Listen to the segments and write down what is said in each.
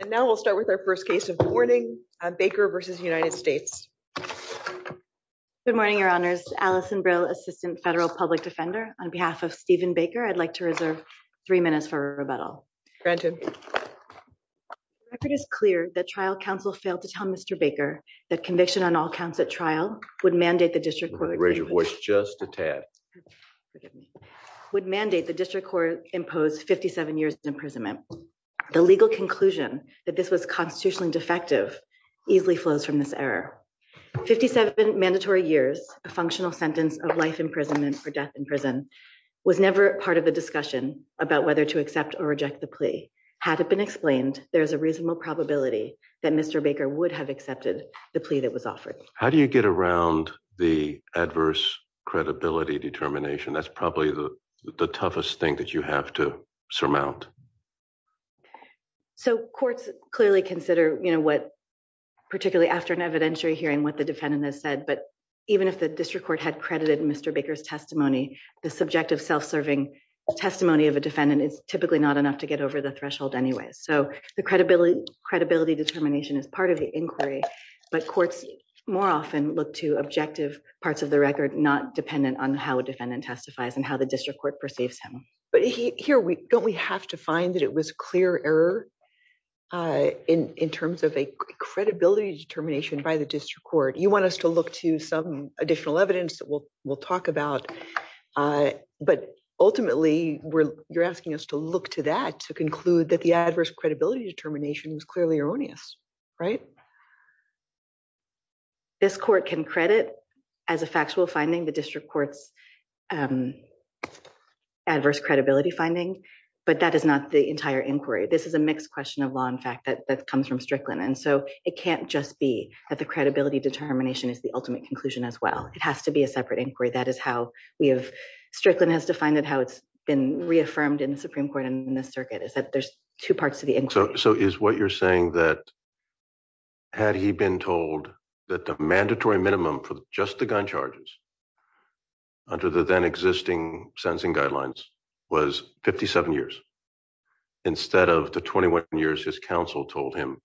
And now we'll start with our first case of the morning, Baker v. United States. Good morning, Your Honors. Alison Brill, Assistant Federal Public Defender. On behalf of Stephen Baker, I'd like to reserve three minutes for rebuttal. Granted. The record is clear that trial counsel failed to tell Mr. Baker that conviction on all counts at trial would mandate the District Court Raise your voice just a tad. Would mandate the District Court impose 57 years imprisonment. The legal conclusion that this was constitutionally defective easily flows from this error. 57 mandatory years, a functional sentence of life imprisonment for death in prison, was never part of the discussion about whether to accept or reject the plea. Had it been explained, there's a reasonable probability that Mr. Baker would have accepted the plea that was offered. How do you get around the adverse credibility determination? That's probably the toughest thing that you have to surmount. So courts clearly consider what, particularly after an evidentiary hearing, what the defendant has said, but even if the District Court had credited Mr. Baker's testimony, the subjective self-serving testimony of a defendant is typically not enough to get over the threshold anyways. So the credibility determination is part of the inquiry, but courts more often look to objective parts of the record not dependent on how a defendant testifies and how the District Court perceives him. But here, don't we have to find that it was clear error in terms of a credibility determination by the District Court? You want us to look to some additional evidence that we'll talk about, but ultimately you're asking us to look to that to conclude that the adverse credibility determination is clearly erroneous, right? This court can credit, as a factual finding, the District Court's adverse credibility finding, but that is not the entire inquiry. This is a mixed question of law and fact that comes from Strickland, and so it can't just be that the credibility determination is the ultimate conclusion as well. It has to be a separate inquiry. Strickland has defined it how it's been reaffirmed in the Supreme Court and in the circuit, is that there's two parts to the inquiry. So is what you're saying that had he been told that the mandatory minimum for just the gun charges under the then existing sentencing guidelines was 57 years instead of the 21 years his counsel told him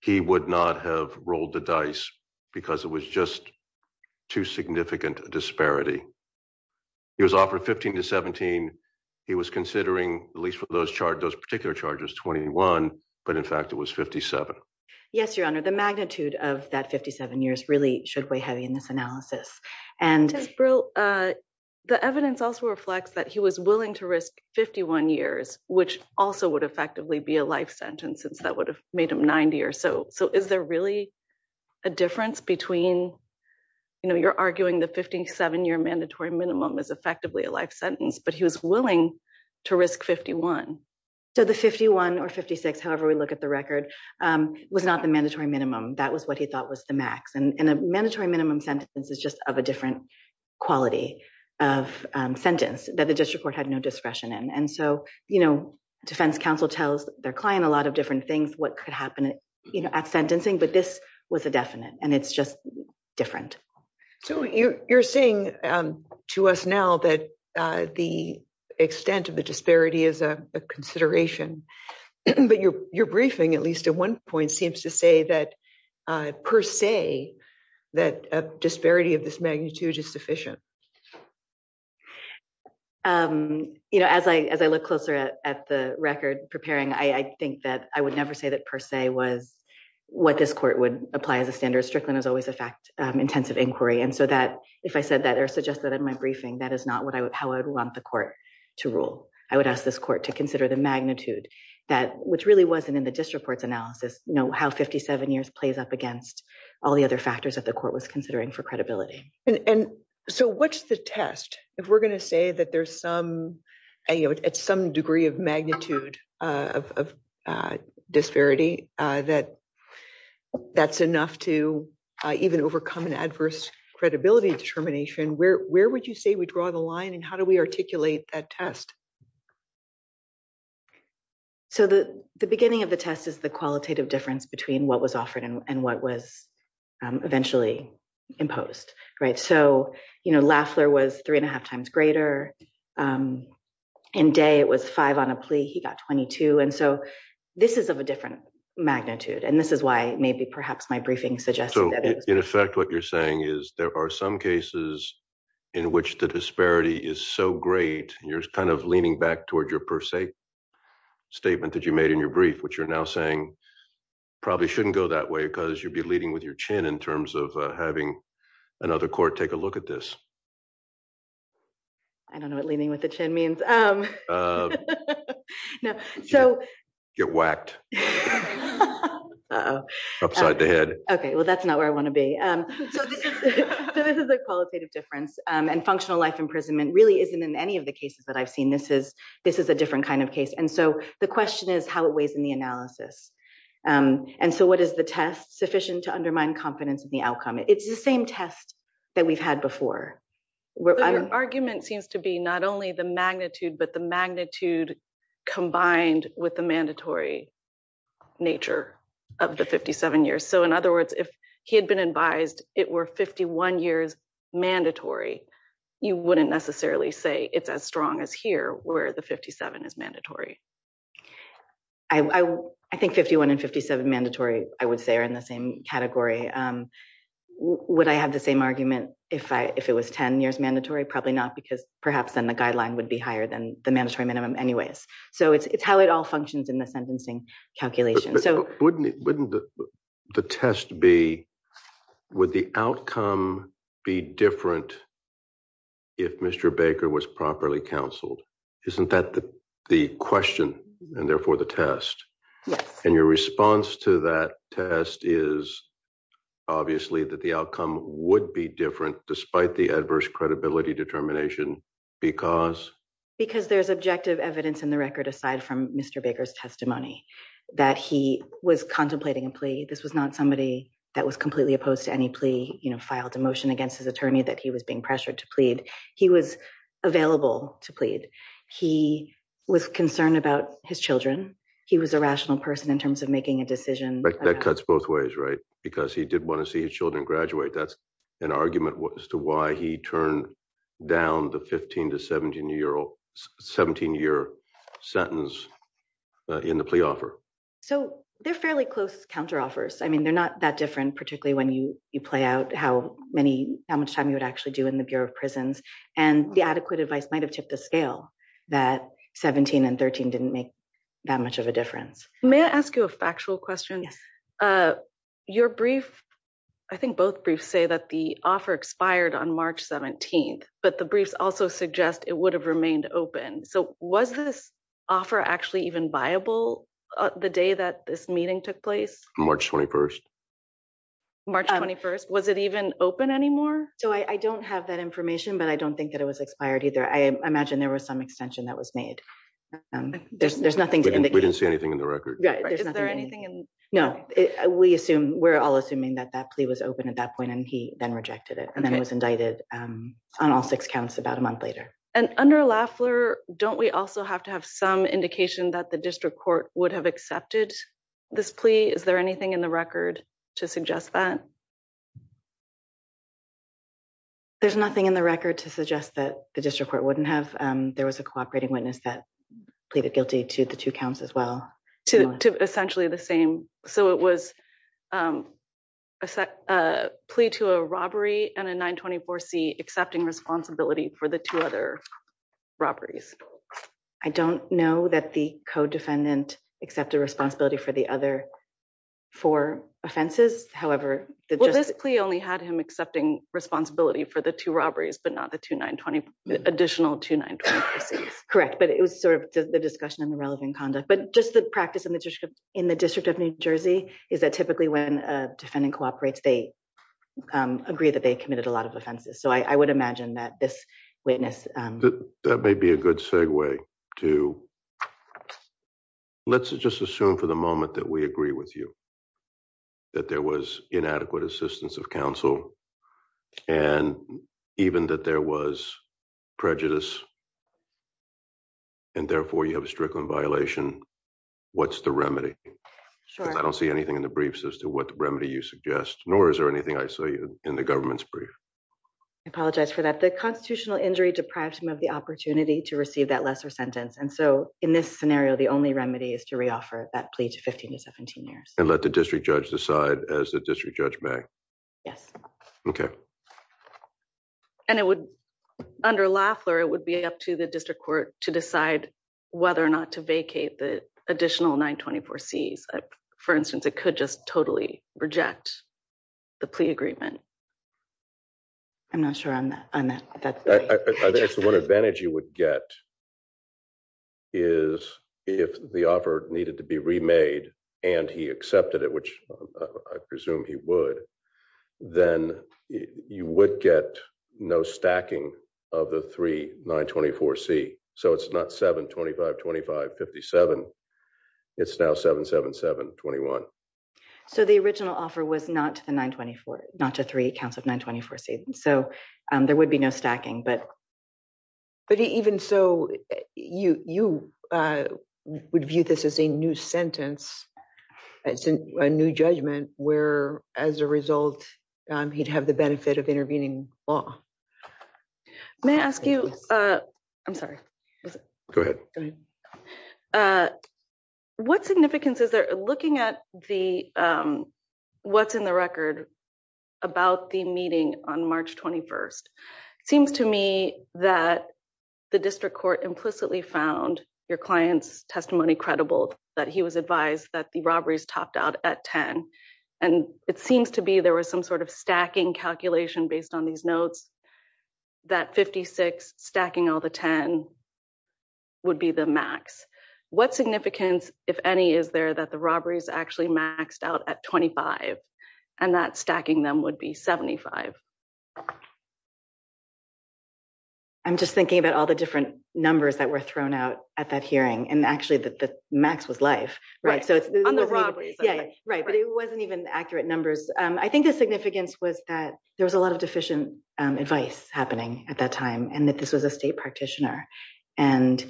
he would not have rolled the dice because it was just too significant a disparity. He was offered 15 to 17. He was considering, at least for those particular charges, 21, but in fact it was 57. Yes, Your Honor, the magnitude of that 57 years really should weigh heavy in this analysis. Ms. Brill, the evidence also reflects that he was willing to risk 51 years, which also would effectively be a life sentence since that would have made him 90 or so. So is there really a difference between, you know, you're arguing the 57-year mandatory minimum is effectively a life sentence, but he was willing to risk 51? So the 51 or 56, however we look at the record, was not the mandatory minimum. That was what he thought was the max. And a mandatory minimum sentence is just of a different quality of sentence that the district court had no discretion in. And so, you know, defense counsel tells their client a lot of different things, what could happen at sentencing, but this was a definite, and it's just different. So you're saying to us now that the extent of the disparity is a consideration. But your briefing, at least at one point, seems to say that per se, that a disparity of this magnitude is sufficient. You know, as I look closer at the record preparing, I think that I would never say that per se was what this court would apply as a standard. Strickland has always a fact intensive inquiry. And so that if I said that or suggested in my briefing, that is not how I would want the court to rule. I would ask this court to consider the magnitude, which really wasn't in the district court's analysis, how 57 years plays up against all the other factors that the court was considering for credibility. And so what's the test? If we're going to say that there's some, at some degree of magnitude of disparity, that that's enough to even overcome an adverse credibility determination, where would you say we draw the line and how do we articulate that test? So the beginning of the test is the qualitative difference between what was offered and what was eventually imposed. Right. So, you know, Lafler was three and a half times greater. In day it was five on a plea. He got 22. And so this is of a different magnitude. And this is why maybe perhaps my briefing suggests. In effect, what you're saying is there are some cases in which the disparity is so great and you're kind of leaning back towards your per se statement that you made in your brief, which you're now saying probably shouldn't go that way because you'd be leading with your chin in terms of having another court. Take a look at this. I don't know what leaning with the chin means. No. So get whacked. Upside the head. Okay. Well, that's not where I want to be. This is a qualitative difference. And functional life imprisonment really isn't in any of the cases that I've seen. This is, this is a different kind of case. And so the question is how it weighs in the analysis. And so what is the test sufficient to undermine confidence in the outcome? It's the same test that we've had before. Argument seems to be not only the magnitude, but the magnitude combined with the mandatory nature of the 57 years. So in other words, if he had been advised, it were 51 years mandatory. You wouldn't necessarily say it's as strong as here where the 57 is mandatory. I think 51 and 57 mandatory, I would say are in the same category. Would I have the same argument if I, if it was 10 years mandatory, probably not because perhaps then the guideline would be higher than the mandatory minimum anyways. So it's how it all functions in the sentencing calculation. So wouldn't, wouldn't the test be, would the outcome be different if Mr. Baker was properly counseled? Isn't that the question and therefore the test and your response to that test is obviously that the outcome would be different despite the adverse credibility determination, because. Because there's objective evidence in the record, aside from Mr. Baker's testimony that he was contemplating a plea. This was not somebody that was completely opposed to any plea, you know, filed a motion against his attorney that he was being pressured to plead. He was available to plead. He was concerned about his children. He was a rational person in terms of making a decision. That cuts both ways, right? Because he did want to see his children graduate. That's an argument as to why he turned down the 15 to 17 year old. Sentence in the plea offer. So they're fairly close counter offers. I mean, they're not that different, particularly when you, you play out how many, how much time you would actually do in the bureau of prisons and the adequate advice might've tipped the scale. That 17 and 13 didn't make that much of a difference. May I ask you a factual question? Your brief. I think both briefs say that the offer expired on March 17th, but the briefs also suggest it would have remained open. So was this. Offer actually even viable. The day that this meeting took place. March 21st. March 21st. Was it even open anymore? So I don't have that information, but I don't think that it was expired either. I imagine there was some extension that was made. There's nothing. We didn't see anything in the record. Is there anything in. No, we assume we're all assuming that that plea was open at that point. And that the district court would have accepted this plea. And then he then rejected it. And then it was indicted. On all six counts about a month later. And under Lafleur, don't we also have to have some indication that the district court would have accepted this plea? Is there anything in the record to suggest that. There's nothing in the record to suggest that the district court wouldn't have, there was a cooperating witness that. I'm sorry. And then it would have pleaded guilty to the two counts as well. To essentially the same. So it was. A plea to a robbery and a nine 24 C accepting responsibility for the two other. Robberies. I don't know that the co-defendant. Accepted responsibility for the other. For offenses. However, The plea only had him accepting responsibility for the two robberies, but not the two nine 20. Additional two nine. Correct. But it was sort of the discussion and the relevant conduct, but just the practice in the district. In the district of New Jersey is that typically when a defendant cooperates, they. Agree that they committed a lot of offenses. So I would imagine that this witness. That may be a good segue to. Let's just assume for the moment that we agree with you. That there was inadequate assistance of counsel. And even that there was. Prejudice. And therefore you have a strickling violation. What's the remedy. I don't see anything in the briefs as to what the remedy you suggest, nor is there anything I say in the government's brief. I apologize for that. The constitutional injury deprived him of the opportunity to receive that And let the district judge decide as the district judge may. Yes. Okay. And it would. Under Lafleur, it would be up to the district court to decide. Whether or not to vacate the additional nine 24 C's. For instance, it could just totally reject. The plea agreement. I'm not sure. I think it's the one advantage you would get. The one disadvantage. Is if the offer needed to be remade. And he accepted it, which. I presume he would. Then. You would get no stacking of the three nine 24 C. So it's not seven 25, 25 57. It's now seven, seven, seven 21. So the original offer was not to the nine 24, not to three counts of nine 24 C. So there would be no stacking, but. But even so. You, you. Would view this as a new sentence. A new judgment where as a result. He'd have the benefit of intervening law. May I ask you. I'm sorry. Go ahead. What significance is there looking at the. What's in the record. About the meeting on March 21st. Seems to me that. The district court implicitly found your client's testimony credible. That he was advised that the robberies topped out at 10. And it seems to be, there was some sort of stacking calculation based on these notes. That 56 stacking all the 10. Would be the max. What significance, if any, is there that the robberies actually maxed out at 25. And that stacking them would be 75. I'm just thinking about all the different numbers that were thrown out at that hearing. And actually the max was life. Right. So it's. Yeah. Right. But it wasn't even accurate numbers. I think the significance was that there was a lot of deficient. Advice happening at that time. And that this was a state practitioner. And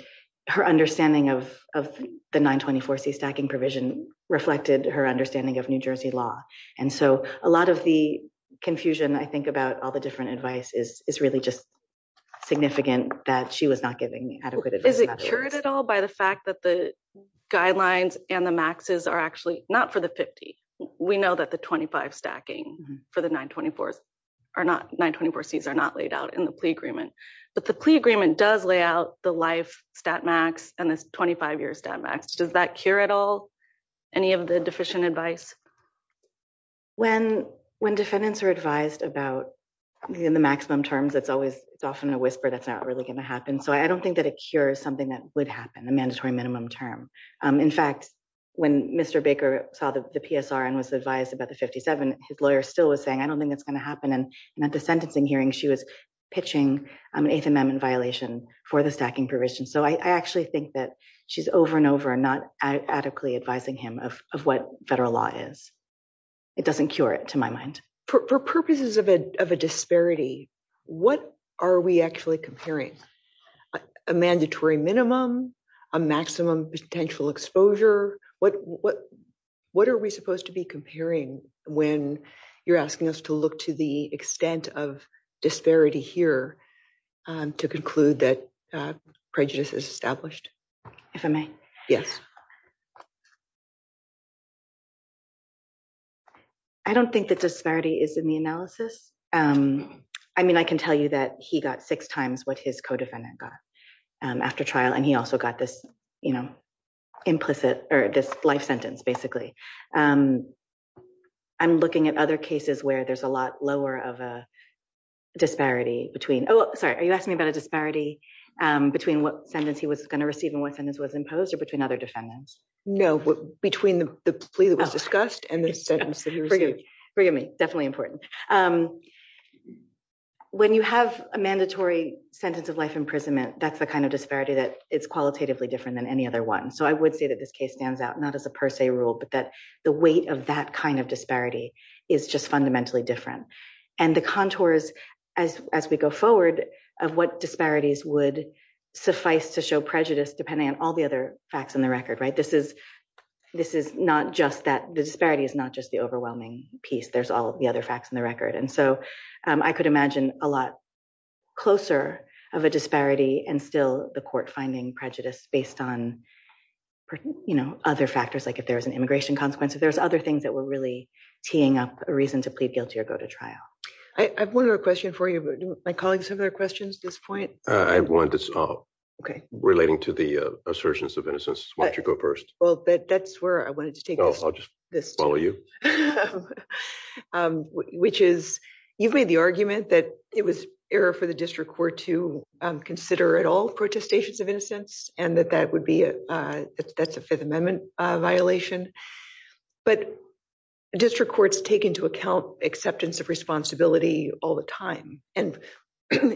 her understanding of, of the nine 24 C stacking provision. Reflected her understanding of New Jersey law. And so a lot of the confusion I think about all the different advice is, is really just. Significant that she was not giving me adequate. Is it cured at all by the fact that the. Guidelines and the maxes are actually not for the 50. We know that the 25 stacking. For the nine 24. Are not nine 24 seats are not laid out in the plea agreement. But the plea agreement does lay out the life stat max. And this 25 year stat max. Does that cure at all? Any of the deficient advice. When, when defendants are advised about. In the maximum terms, it's always, it's often a whisper. That's not really going to happen. So I don't think that a cure is something that would happen. The mandatory minimum term. In fact, when Mr. Baker saw the PSR and was advised about the 57. His lawyer still was saying, I don't think that's going to happen. And at the sentencing hearing, she was. Pitching an eighth amendment violation for the stacking provision. So I actually think that she's over and over and not adequately advising him of, of what federal law is. It doesn't cure it to my mind. For purposes of a, of a disparity. What are we actually comparing? A mandatory minimum. A maximum potential exposure. What are we supposed to be comparing? When you're asking us to look to the extent of disparity here. To conclude that prejudice is established. If I may. Yes. I don't think that disparity is in the analysis. I mean, I can tell you that he got six times what his co-defendant got. After trial. And he also got this. You know, Implicit or this life sentence, basically. I'm looking at other cases where there's a lot lower of a. Disparity between. Oh, sorry. Are you asking me about a disparity? Between what sentence he was going to receive and what sentence was imposed or between other defendants. No. Between the plea that was discussed and the sentence. Forgive me. Definitely important. When you have a mandatory sentence of life imprisonment, that's the kind of disparity that it's qualitatively different than any other one. So I would say that this case stands out. Not as a per se rule, but that the weight of that kind of disparity is just fundamentally different. And the contours as, as we go forward. Of what disparities would suffice to show prejudice depending on all the other facts on the record, right? This is. This is not just that the disparity is not just the overwhelming piece. There's all the other facts on the record. And so I could imagine a lot. Closer of a disparity and still the court finding prejudice based on. You know, other factors, like if there was an immigration consequence, if there's other things that were really teeing up a reason to plead guilty or go to trial. I have one other question for you. My colleagues have other questions at this point. I want this. Okay. Relating to the assertions of innocence. Why don't you go first? Well, that's where I wanted to take this. Which is you've made the argument that it was error for the district court to consider at all protestations of innocence and that that would be. That's a fifth amendment violation. But. District courts take into account acceptance of responsibility all the time. And.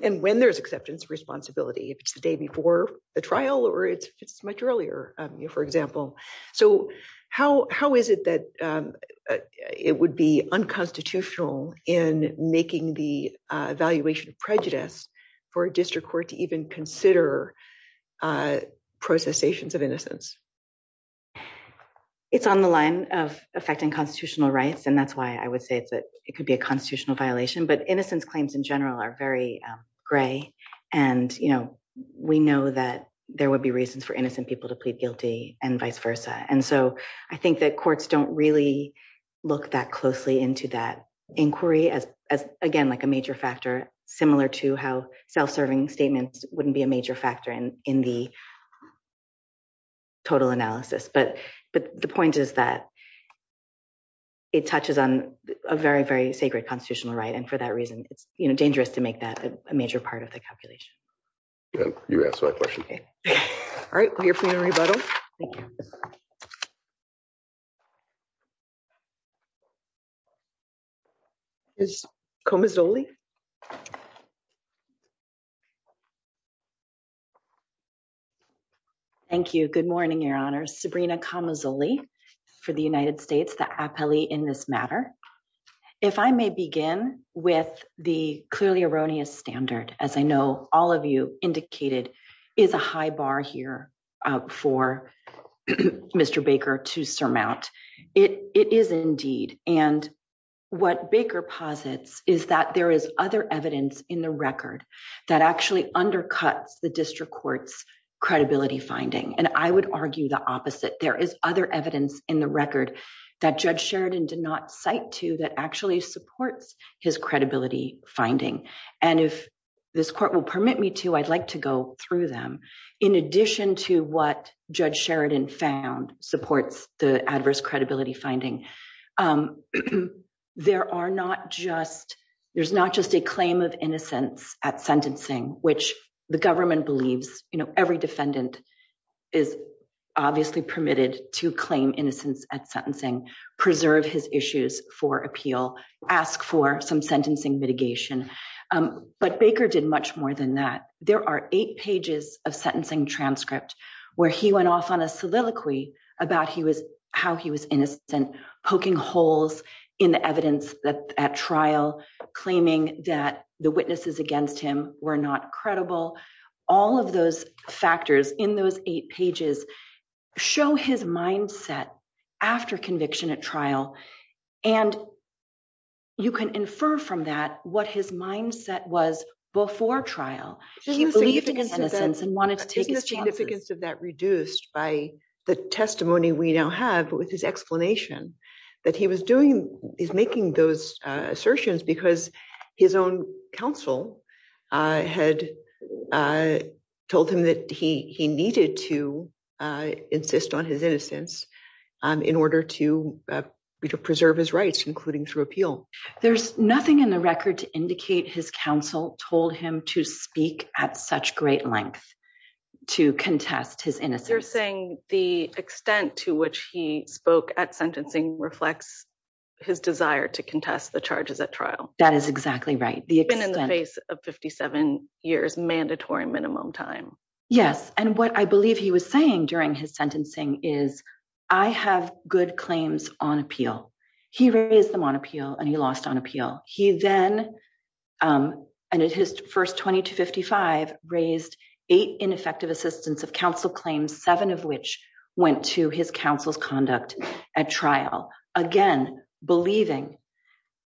And when there's acceptance responsibility, if it's the day before the trial, or it's, it's much earlier, you know, for example. So how, how is it that. It would be unconstitutional in making the evaluation of prejudice for a district court to even consider. Processations of innocence. It's on the line of affecting constitutional rights. And that's why I would say that it could be a constitutional violation, but innocence claims in general are very gray. And, you know, we know that there would be reasons for innocent people to plead guilty and vice versa. And so I think that courts don't really look that closely into that inquiry as, as, again, like a major factor similar to how self-serving statements wouldn't be a major factor in, in the. Total analysis, but, but the point is that. It touches on a very, very sacred constitutional right. And for that reason, it's dangerous to make that a major part of the calculation. You asked my question. All right. Well, I hear from a rebuttal. Thank you. Thank you. Good morning. Your honor. Sabrina comes only for the United States. The appellee in this matter. If I may begin with the clearly erroneous standard, as I know all of you indicated is a high bar here. For Mr Baker to surmount it. It is indeed. And what Baker posits is that there is other evidence in the record that actually undercuts the district court's credibility finding. And I would argue the opposite. There is other evidence in the record that judge Sheridan did not cite to that actually supports his credibility finding. And if this court will permit me to, I'd like to go through them. In addition to what judge Sheridan found supports the adverse credibility finding. There are not just, there's not just a claim of innocence at sentencing, which the government believes, you know, every defendant is obviously permitted to claim innocence at sentencing, preserve his issues for appeal, ask for some sentencing mitigation. But Baker did much more than that. There are eight pages of sentencing transcript where he went off on a soliloquy about he was, how he was innocent, poking holes in the evidence that at trial, claiming that the witnesses against him were not credible. All of those factors in those eight pages. Show his mindset. After conviction at trial. And. You can infer from that what his mindset was before trial. And wanted to take. Significance of that reduced by the testimony we now have with his explanation. That he was doing is making those assertions because his own council. I had told him that he, he needed to. Insist on his innocence. In order to preserve his rights, including through appeal. There's nothing in the record to indicate his council told him to speak at such great length. To contest his innocence. You're saying the extent to which he spoke at sentencing reflects. His desire to contest the charges at trial. That is exactly right. In the face of 57 years mandatory minimum time. Yes. And what I believe he was saying during his sentencing is. I have good claims on appeal. He raised them on appeal and he lost on appeal. He then. And at his first 20 to 55 raised. Eight ineffective assistance of council claims, seven of which went to his council's conduct. At trial again, believing.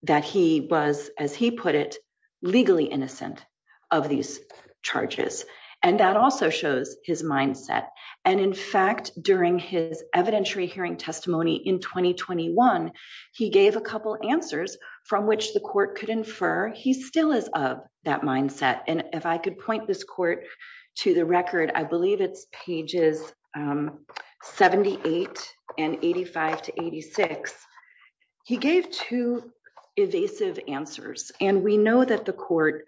That he was, as he put it. Legally innocent. Of these charges. And that also shows his mindset. And in fact, during his evidentiary hearing testimony in 2021. He gave a couple answers from which the court could infer. He still is of that mindset. And if I could point this court. To the record, I believe it's pages. 78 and 85 to 86. He gave two. Evasive answers. And we know that the court.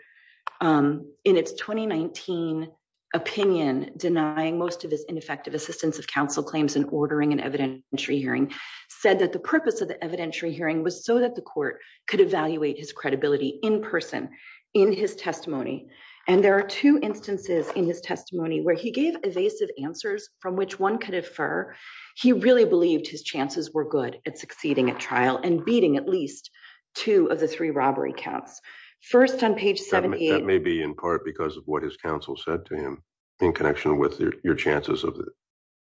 In its 2019. Opinion denying most of his ineffective assistance of council claims and ordering an evidentiary hearing. Said that the purpose of the evidentiary hearing was so that the court could evaluate his credibility in person. In his testimony. And there are two instances in his testimony where he gave evasive answers from which one could infer. He really believed his chances were good at succeeding at trial and beating at least. Two of the three robbery counts. First on page 70. Maybe in part because of what his council said to him. In connection with your chances of.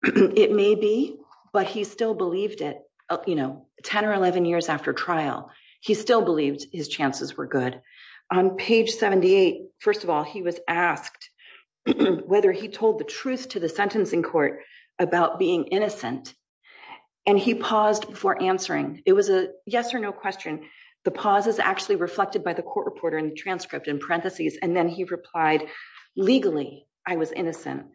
It may be, but he still believed it. You know, 10 or 11 years after trial. He still believed his chances were good. On page 78. First of all, he was asked. Whether he told the truth to the sentencing court. About being innocent. And he paused for answering. It was a yes or no question. And he said, yes, I was innocent. And the pause is actually reflected by the court reporter in the transcript in parentheses. And then he replied. Legally. I was innocent.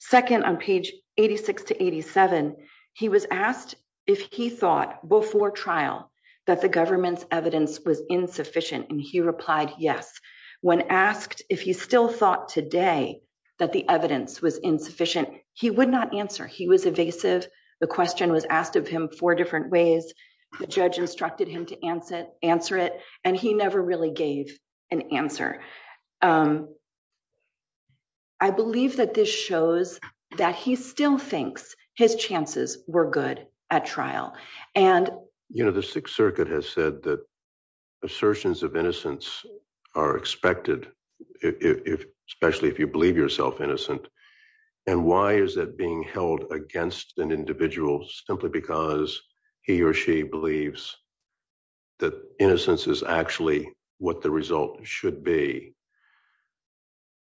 Second on page 86 to 87. He was asked if he thought before trial. That the government's evidence was insufficient. And he replied, yes. When asked if he still thought today. That the evidence was insufficient. He would not answer. He was evasive. The question was asked of him four different ways. The judge instructed him to answer, answer it. And he never really gave an answer. I believe that this shows that he still thinks his chances were good at trial. And. You know, the sixth circuit has said that. Assertions of innocence. Are expected. Especially if you believe yourself innocent. And why is that being held against an individual? Simply because he or she believes. That innocence is actually what the result should be.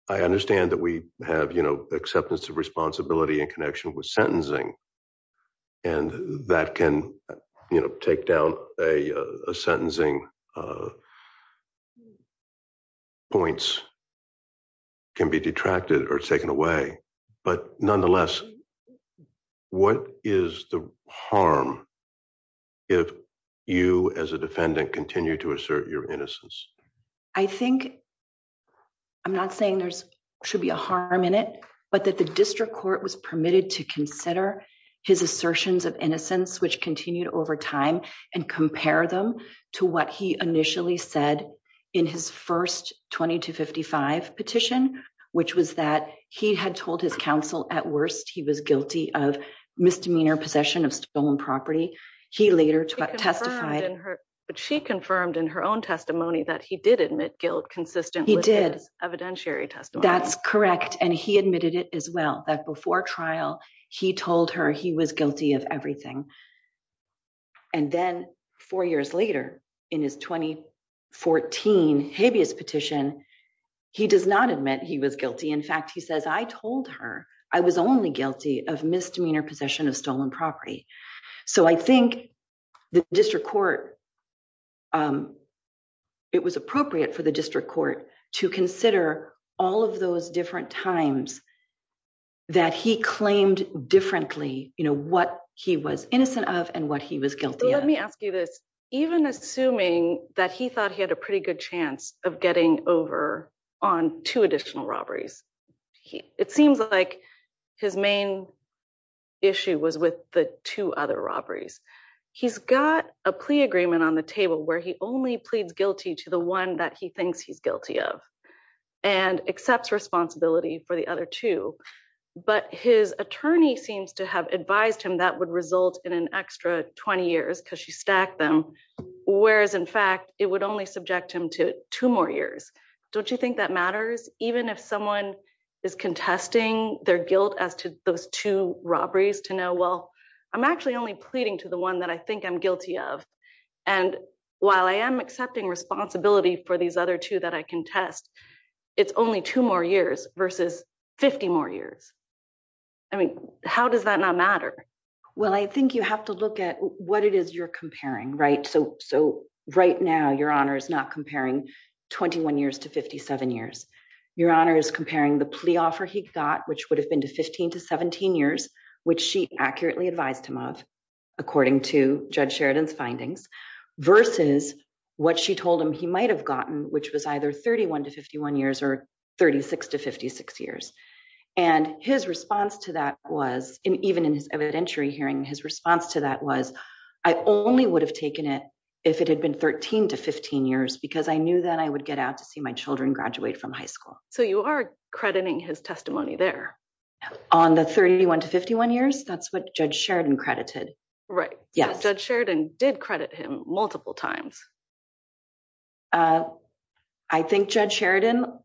I understand that we have, you know, acceptance of responsibility and connection with sentencing. And that can. You know, take down a, a sentencing. Point. Can be detracted or taken away. But nonetheless. What is the harm? If you, as a defendant continue to assert your innocence. I think. I'm not saying there's should be a harm in it, but that the district court was permitted to consider. His assertions of innocence, which continued over time. And compare them to what he initially said. In his first 20 to 55 petition. Which was that he had told his counsel at worst. He was guilty of misdemeanor possession of stolen property. He later testified. But she confirmed in her own testimony that he did admit guilt. Consistent. He did evidentiary testimony. That's correct. And he admitted it as well. That before trial, he told her he was guilty of everything. And then four years later in his 20. 14 habeas petition. He does not admit he was guilty. In fact, he says, I told her. I was only guilty of misdemeanor possession of stolen property. So I think. The district court. It was appropriate for the district court to consider all of those different times. That he claimed differently, you know, what he was innocent of and what he was guilty of. Let me ask you this. Even assuming that he thought he had a pretty good chance of getting over. On two additional robberies. It seems like his main. Issue was with the two other robberies. He's got a plea agreement on the table where he only pleads guilty to the one that he thinks he's guilty of. And he's got a plea agreement on the table where he only pleads guilty And he pleads guilty to the other two. And accepts responsibility for the other two. But his attorney seems to have advised him that would result in an extra 20 years. Cause she stacked them. Whereas in fact, it would only subject him to two more years. Don't you think that matters? Even if someone is contesting their guilt as to those two robberies to know. Well, I'm actually only pleading to the one that I think I'm guilty of. And while I am accepting responsibility for these other two that I can test. It's only two more years versus 50 more years. I mean, how does that not matter? Well, I think you have to look at what it is you're comparing, right? So, so right now your honor is not comparing. 21 years to 57 years. Your honor is comparing the plea offer he got, which would have been to 15 to 17 years, which she accurately advised him of according to judge Sheridan's findings. Versus what she told him he might've gotten, which was either 31 to 51 years or 36 to 56 years. And his response to that was in, even in his evidentiary hearing his response to that was I only would have taken it. If it had been 13 to 15 years, because I knew that I would get out to see my children graduate from high school. So you are crediting his testimony there. On the 31 to 51 years. That's what judge Sheridan credited, right? Yeah. Judge Sheridan did credit him multiple times. I think judge Sheridan.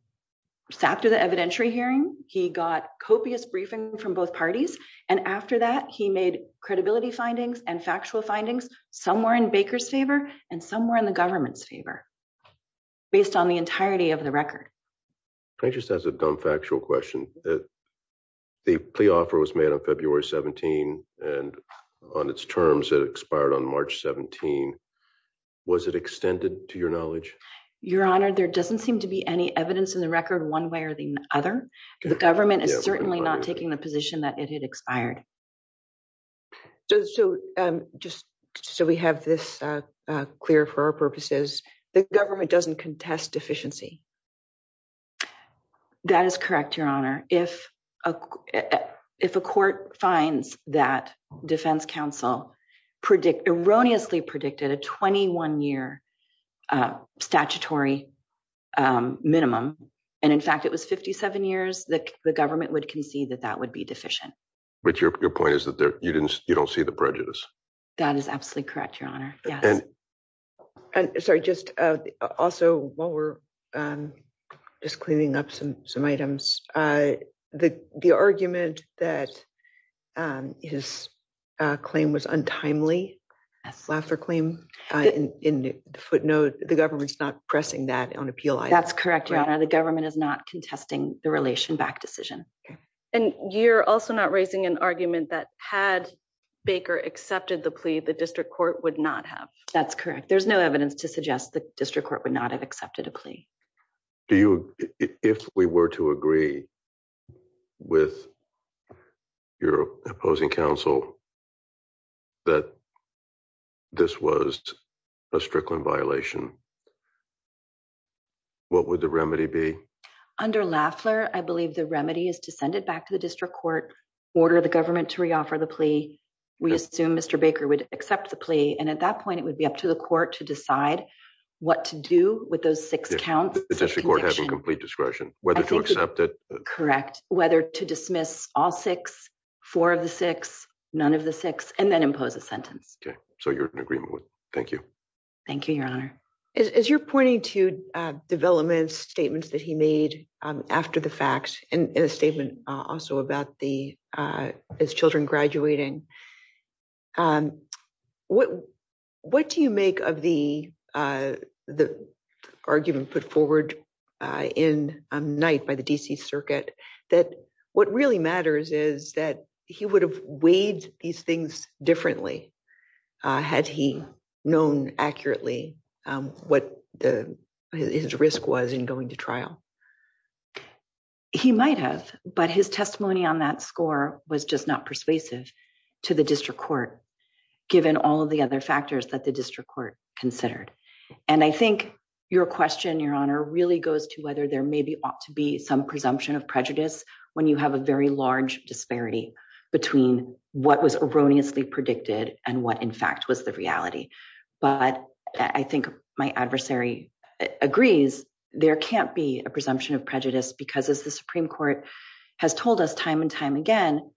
After the evidentiary hearing, he got copious briefing from both parties. And after that, he made credibility findings and factual findings somewhere in Baker's favor and somewhere in the government's favor. Based on the entirety of the record. Can I just ask a dumb factual question? The plea offer was made on February 17 and on its terms, it expired on March 17. Was it extended to your knowledge? You're honored. There doesn't seem to be any evidence in the record one way or the other. The government is certainly not taking the position that it had expired. So just so we have this clear for our purposes, the government doesn't contest deficiency. That is correct. Your honor. If a, if a court finds that defense council predict erroneously predicted a 21 year. Statutory minimum. And in fact, it was 57 years that the government would concede that that would be deficient. But your point is that there, you didn't, you don't see the prejudice. That is absolutely correct. Your honor. Yes. Sorry. I just, also while we're just cleaning up some, some items the, the argument that his claim was untimely. Laughter claim in footnote, the government's not pressing that on appeal. That's correct. The government is not contesting the relation back decision. Okay. And you're also not raising an argument that had Baker accepted the plea, the district court would not have. That's correct. There's no evidence to suggest the district court would not have accepted a plea. Do you, if we were to agree. With. You're opposing council. That this was. A Strickland violation. What would the remedy be? Under Lafler. I believe the remedy is to send it back to the district court. Order the government to reoffer the plea. We assume Mr. Baker would accept the plea. And at that point it would be up to the court to decide. What to do with those six counts. The district court has a complete discretion. Whether to accept it. Correct. Whether to dismiss all six. Four of the six. None of the six and then impose a sentence. Okay. So you're in agreement with. Thank you. Thank you, your honor. As you're pointing to. Developments statements that he made. After the fact. In a statement. Also about the. As children graduating. What. What do you make of the. The. Argument put forward. In a night by the DC circuit. That what really matters is that. He would have weighed these things differently. Had he known accurately. What the. His risk was in going to trial. He might have, but his testimony on that score was just not persuasive. To the district court. Given all of the other factors that the district court considered. And I think your question, your honor really goes to whether there may be. To be some presumption of prejudice. When you have a very large disparity. Between what was erroneously predicted and what in fact was the reality. But I think my adversary agrees. There can't be a presumption of prejudice because as the Supreme court. Has told us time and time again.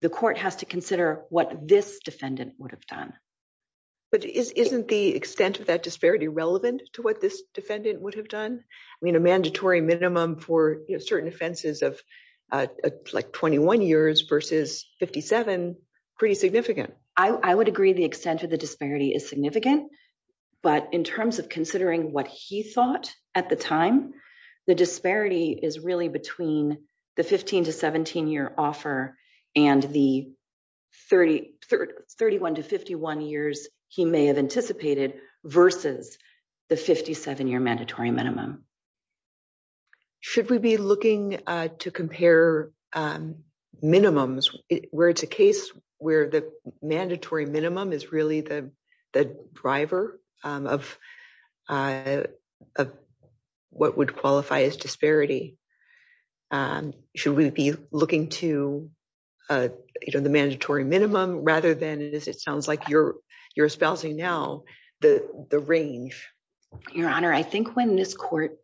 The court has to consider what this defendant would have done. But isn't the extent of that disparity relevant to what this defendant would have done. I mean, a mandatory minimum for certain offenses of. Like 21 years versus 57. Pretty significant. I would agree. The extent of the disparity is significant. But in terms of considering what he thought at the time. The disparity is really between the 15 to 17 year offer. And the. 30. 31 to 51 years. He may have anticipated. Versus. The 57 year mandatory minimum. Should we be looking to compare. Minimums. Where it's a case where the mandatory minimum is really the. The driver. Of. What would qualify as disparity. Should we be looking to. You know, the mandatory minimum rather than it is. It sounds like you're. You're espousing now. The range. Your honor. I think when this court.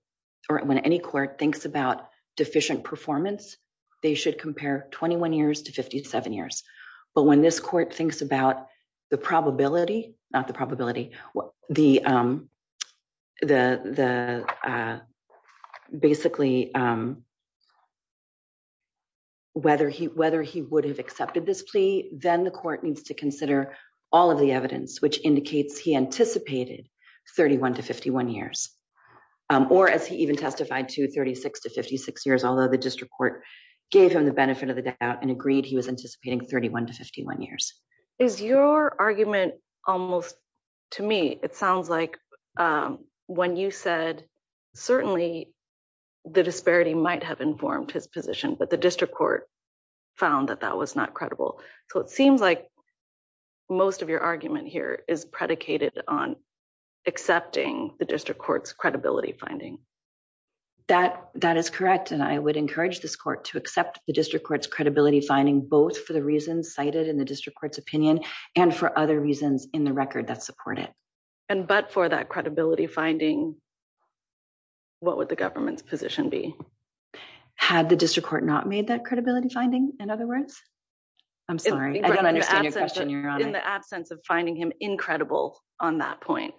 Or when any court thinks about deficient performance. They should compare 21 years to 57 years. But when this court thinks about. The probability. Not the probability. The. The. The. Basically. Whether he, whether he would have accepted this plea. Then the court needs to consider. All of the evidence, which indicates he anticipated. 31 to 51 years. Or as he even testified to 36 to 56 years, although the district court. Gave him the benefit of the doubt and agreed. He was anticipating 31 to 51 years. Is your argument. Almost. To me, it sounds like. When you said. Certainly. The disparity might have informed his position, but the district court. Found that that was not credible. So it seems like. Most of your argument here is predicated on. Accepting the district court's credibility finding. That that is correct. And I would encourage this court to accept. The district court's credibility finding both for the reasons cited in the district court's opinion. And for other reasons in the record that support it. And, but for that credibility finding. What would the government's position be? Had the district court not made that credibility finding. In other words, I'm sorry. I don't understand your question. In the absence of finding him incredible on that point.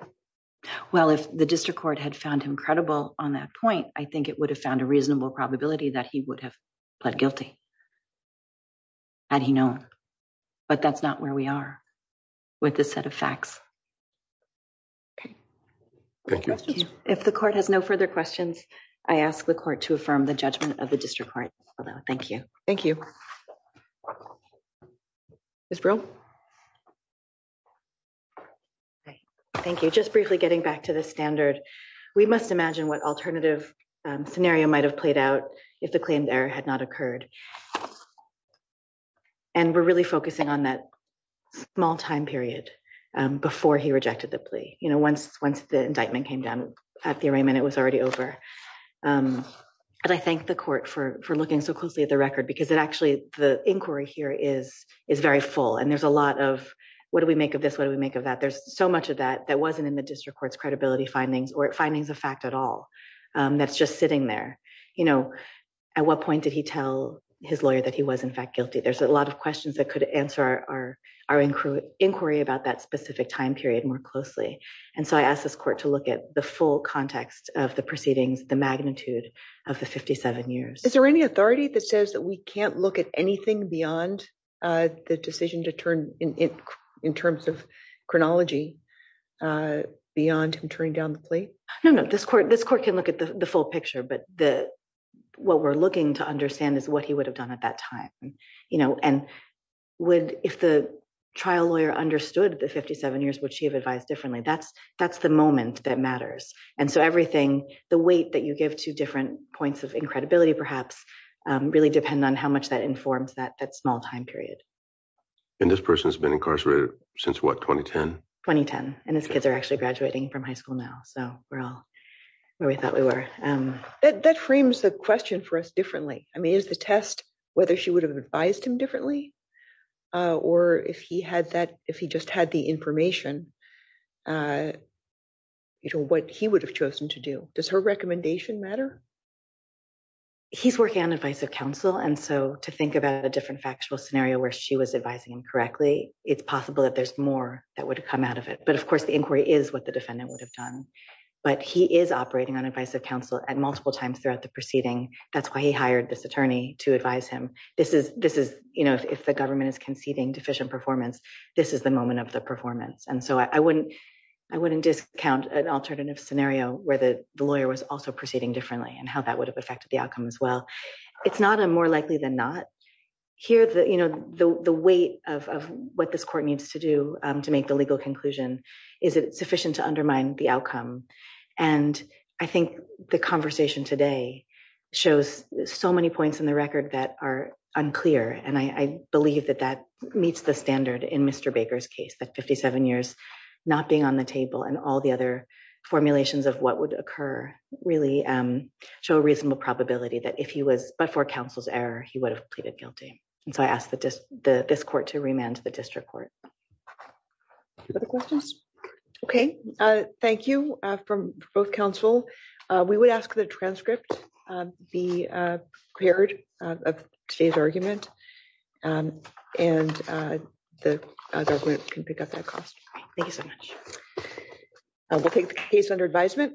Well, if the district court had found him credible on that point, I think it would have found a reasonable probability that he would have. But guilty. And, you know, but that's not where we are. With the set of facts. Okay. If the court has no further questions. I asked the court to affirm the judgment of the district court. Thank you. Thank you. Ms. Brill. Thank you. Just briefly getting back to the standard. We must imagine what alternative. Scenario might've played out. If the claim there had not occurred. And we're really focusing on that. Small time period. Before he rejected the plea. You know, once, once the indictment came down. At the arraignment, it was already over. And I think the court for, for looking so closely at the record, because it actually, the inquiry here is, is very full. And there's a lot of, what do we make of this? What do we make of that? There's so much of that. That wasn't in the district court's credibility findings or findings of fact at all. That's just sitting there. You know, At what point did he tell his lawyer that he was in fact guilty? There's a lot of questions that could answer our, our, our. Inquiry about that specific time period more closely. And so I asked this court to look at the full context of the proceedings, the magnitude. Of the 57 years. Is there any authority that says that we can't look at anything beyond. The decision to turn in. In terms of chronology. Beyond who turned down the plea. No, no, this court, this court can look at the full picture, but the. What we're looking to understand is what he would have done at that time. You know, and. Would, if the trial lawyer understood the 57 years, would she have advised differently? That's that's the moment that matters. And so everything, the weight that you give to different points of incredibility, perhaps. Really depend on how much that informs that, that small time period. And this person has been incarcerated since what? 2010. 2010. And his kids are actually graduating from high school now. So we're all. Where we thought we were. That frames the question for us differently. I mean, is the test. The question is whether she would have advised him differently. Or if he had that, if he just had the information. You know what he would have chosen to do. Does her recommendation matter? He's working on advice of counsel. And so to think about a different factual scenario where she was advising incorrectly. It's possible that there's more that would come out of it. But of course the inquiry is what the defendant would have done. But he is operating on advice of counsel at multiple times throughout the proceeding. That's why he hired this attorney to advise him. This is, this is, you know, if the government is conceding deficient performance. This is the moment of the performance. And so I wouldn't. I wouldn't discount an alternative scenario where the lawyer was also proceeding differently and how that would have affected the outcome as well. It's not a more likely than not. Here the, you know, the, the weight of, of what this court needs to do to make the legal conclusion. Is it sufficient to undermine the outcome? And I think the conversation today. Shows so many points in the record that are unclear. And I believe that that meets the standard in Mr. Baker's case that 57 years. Not being on the table and all the other formulations of what would occur really. Show a reasonable probability that if he was, but for counsel's error, he would have pleaded guilty. And so I ask that just the, this court to remand to the district court. Other questions. Okay. Thank you. From both counsel. We would ask the transcript. Be. Of today's argument. And. The other group can pick up that cost. Thank you so much. I will take the case under advisement.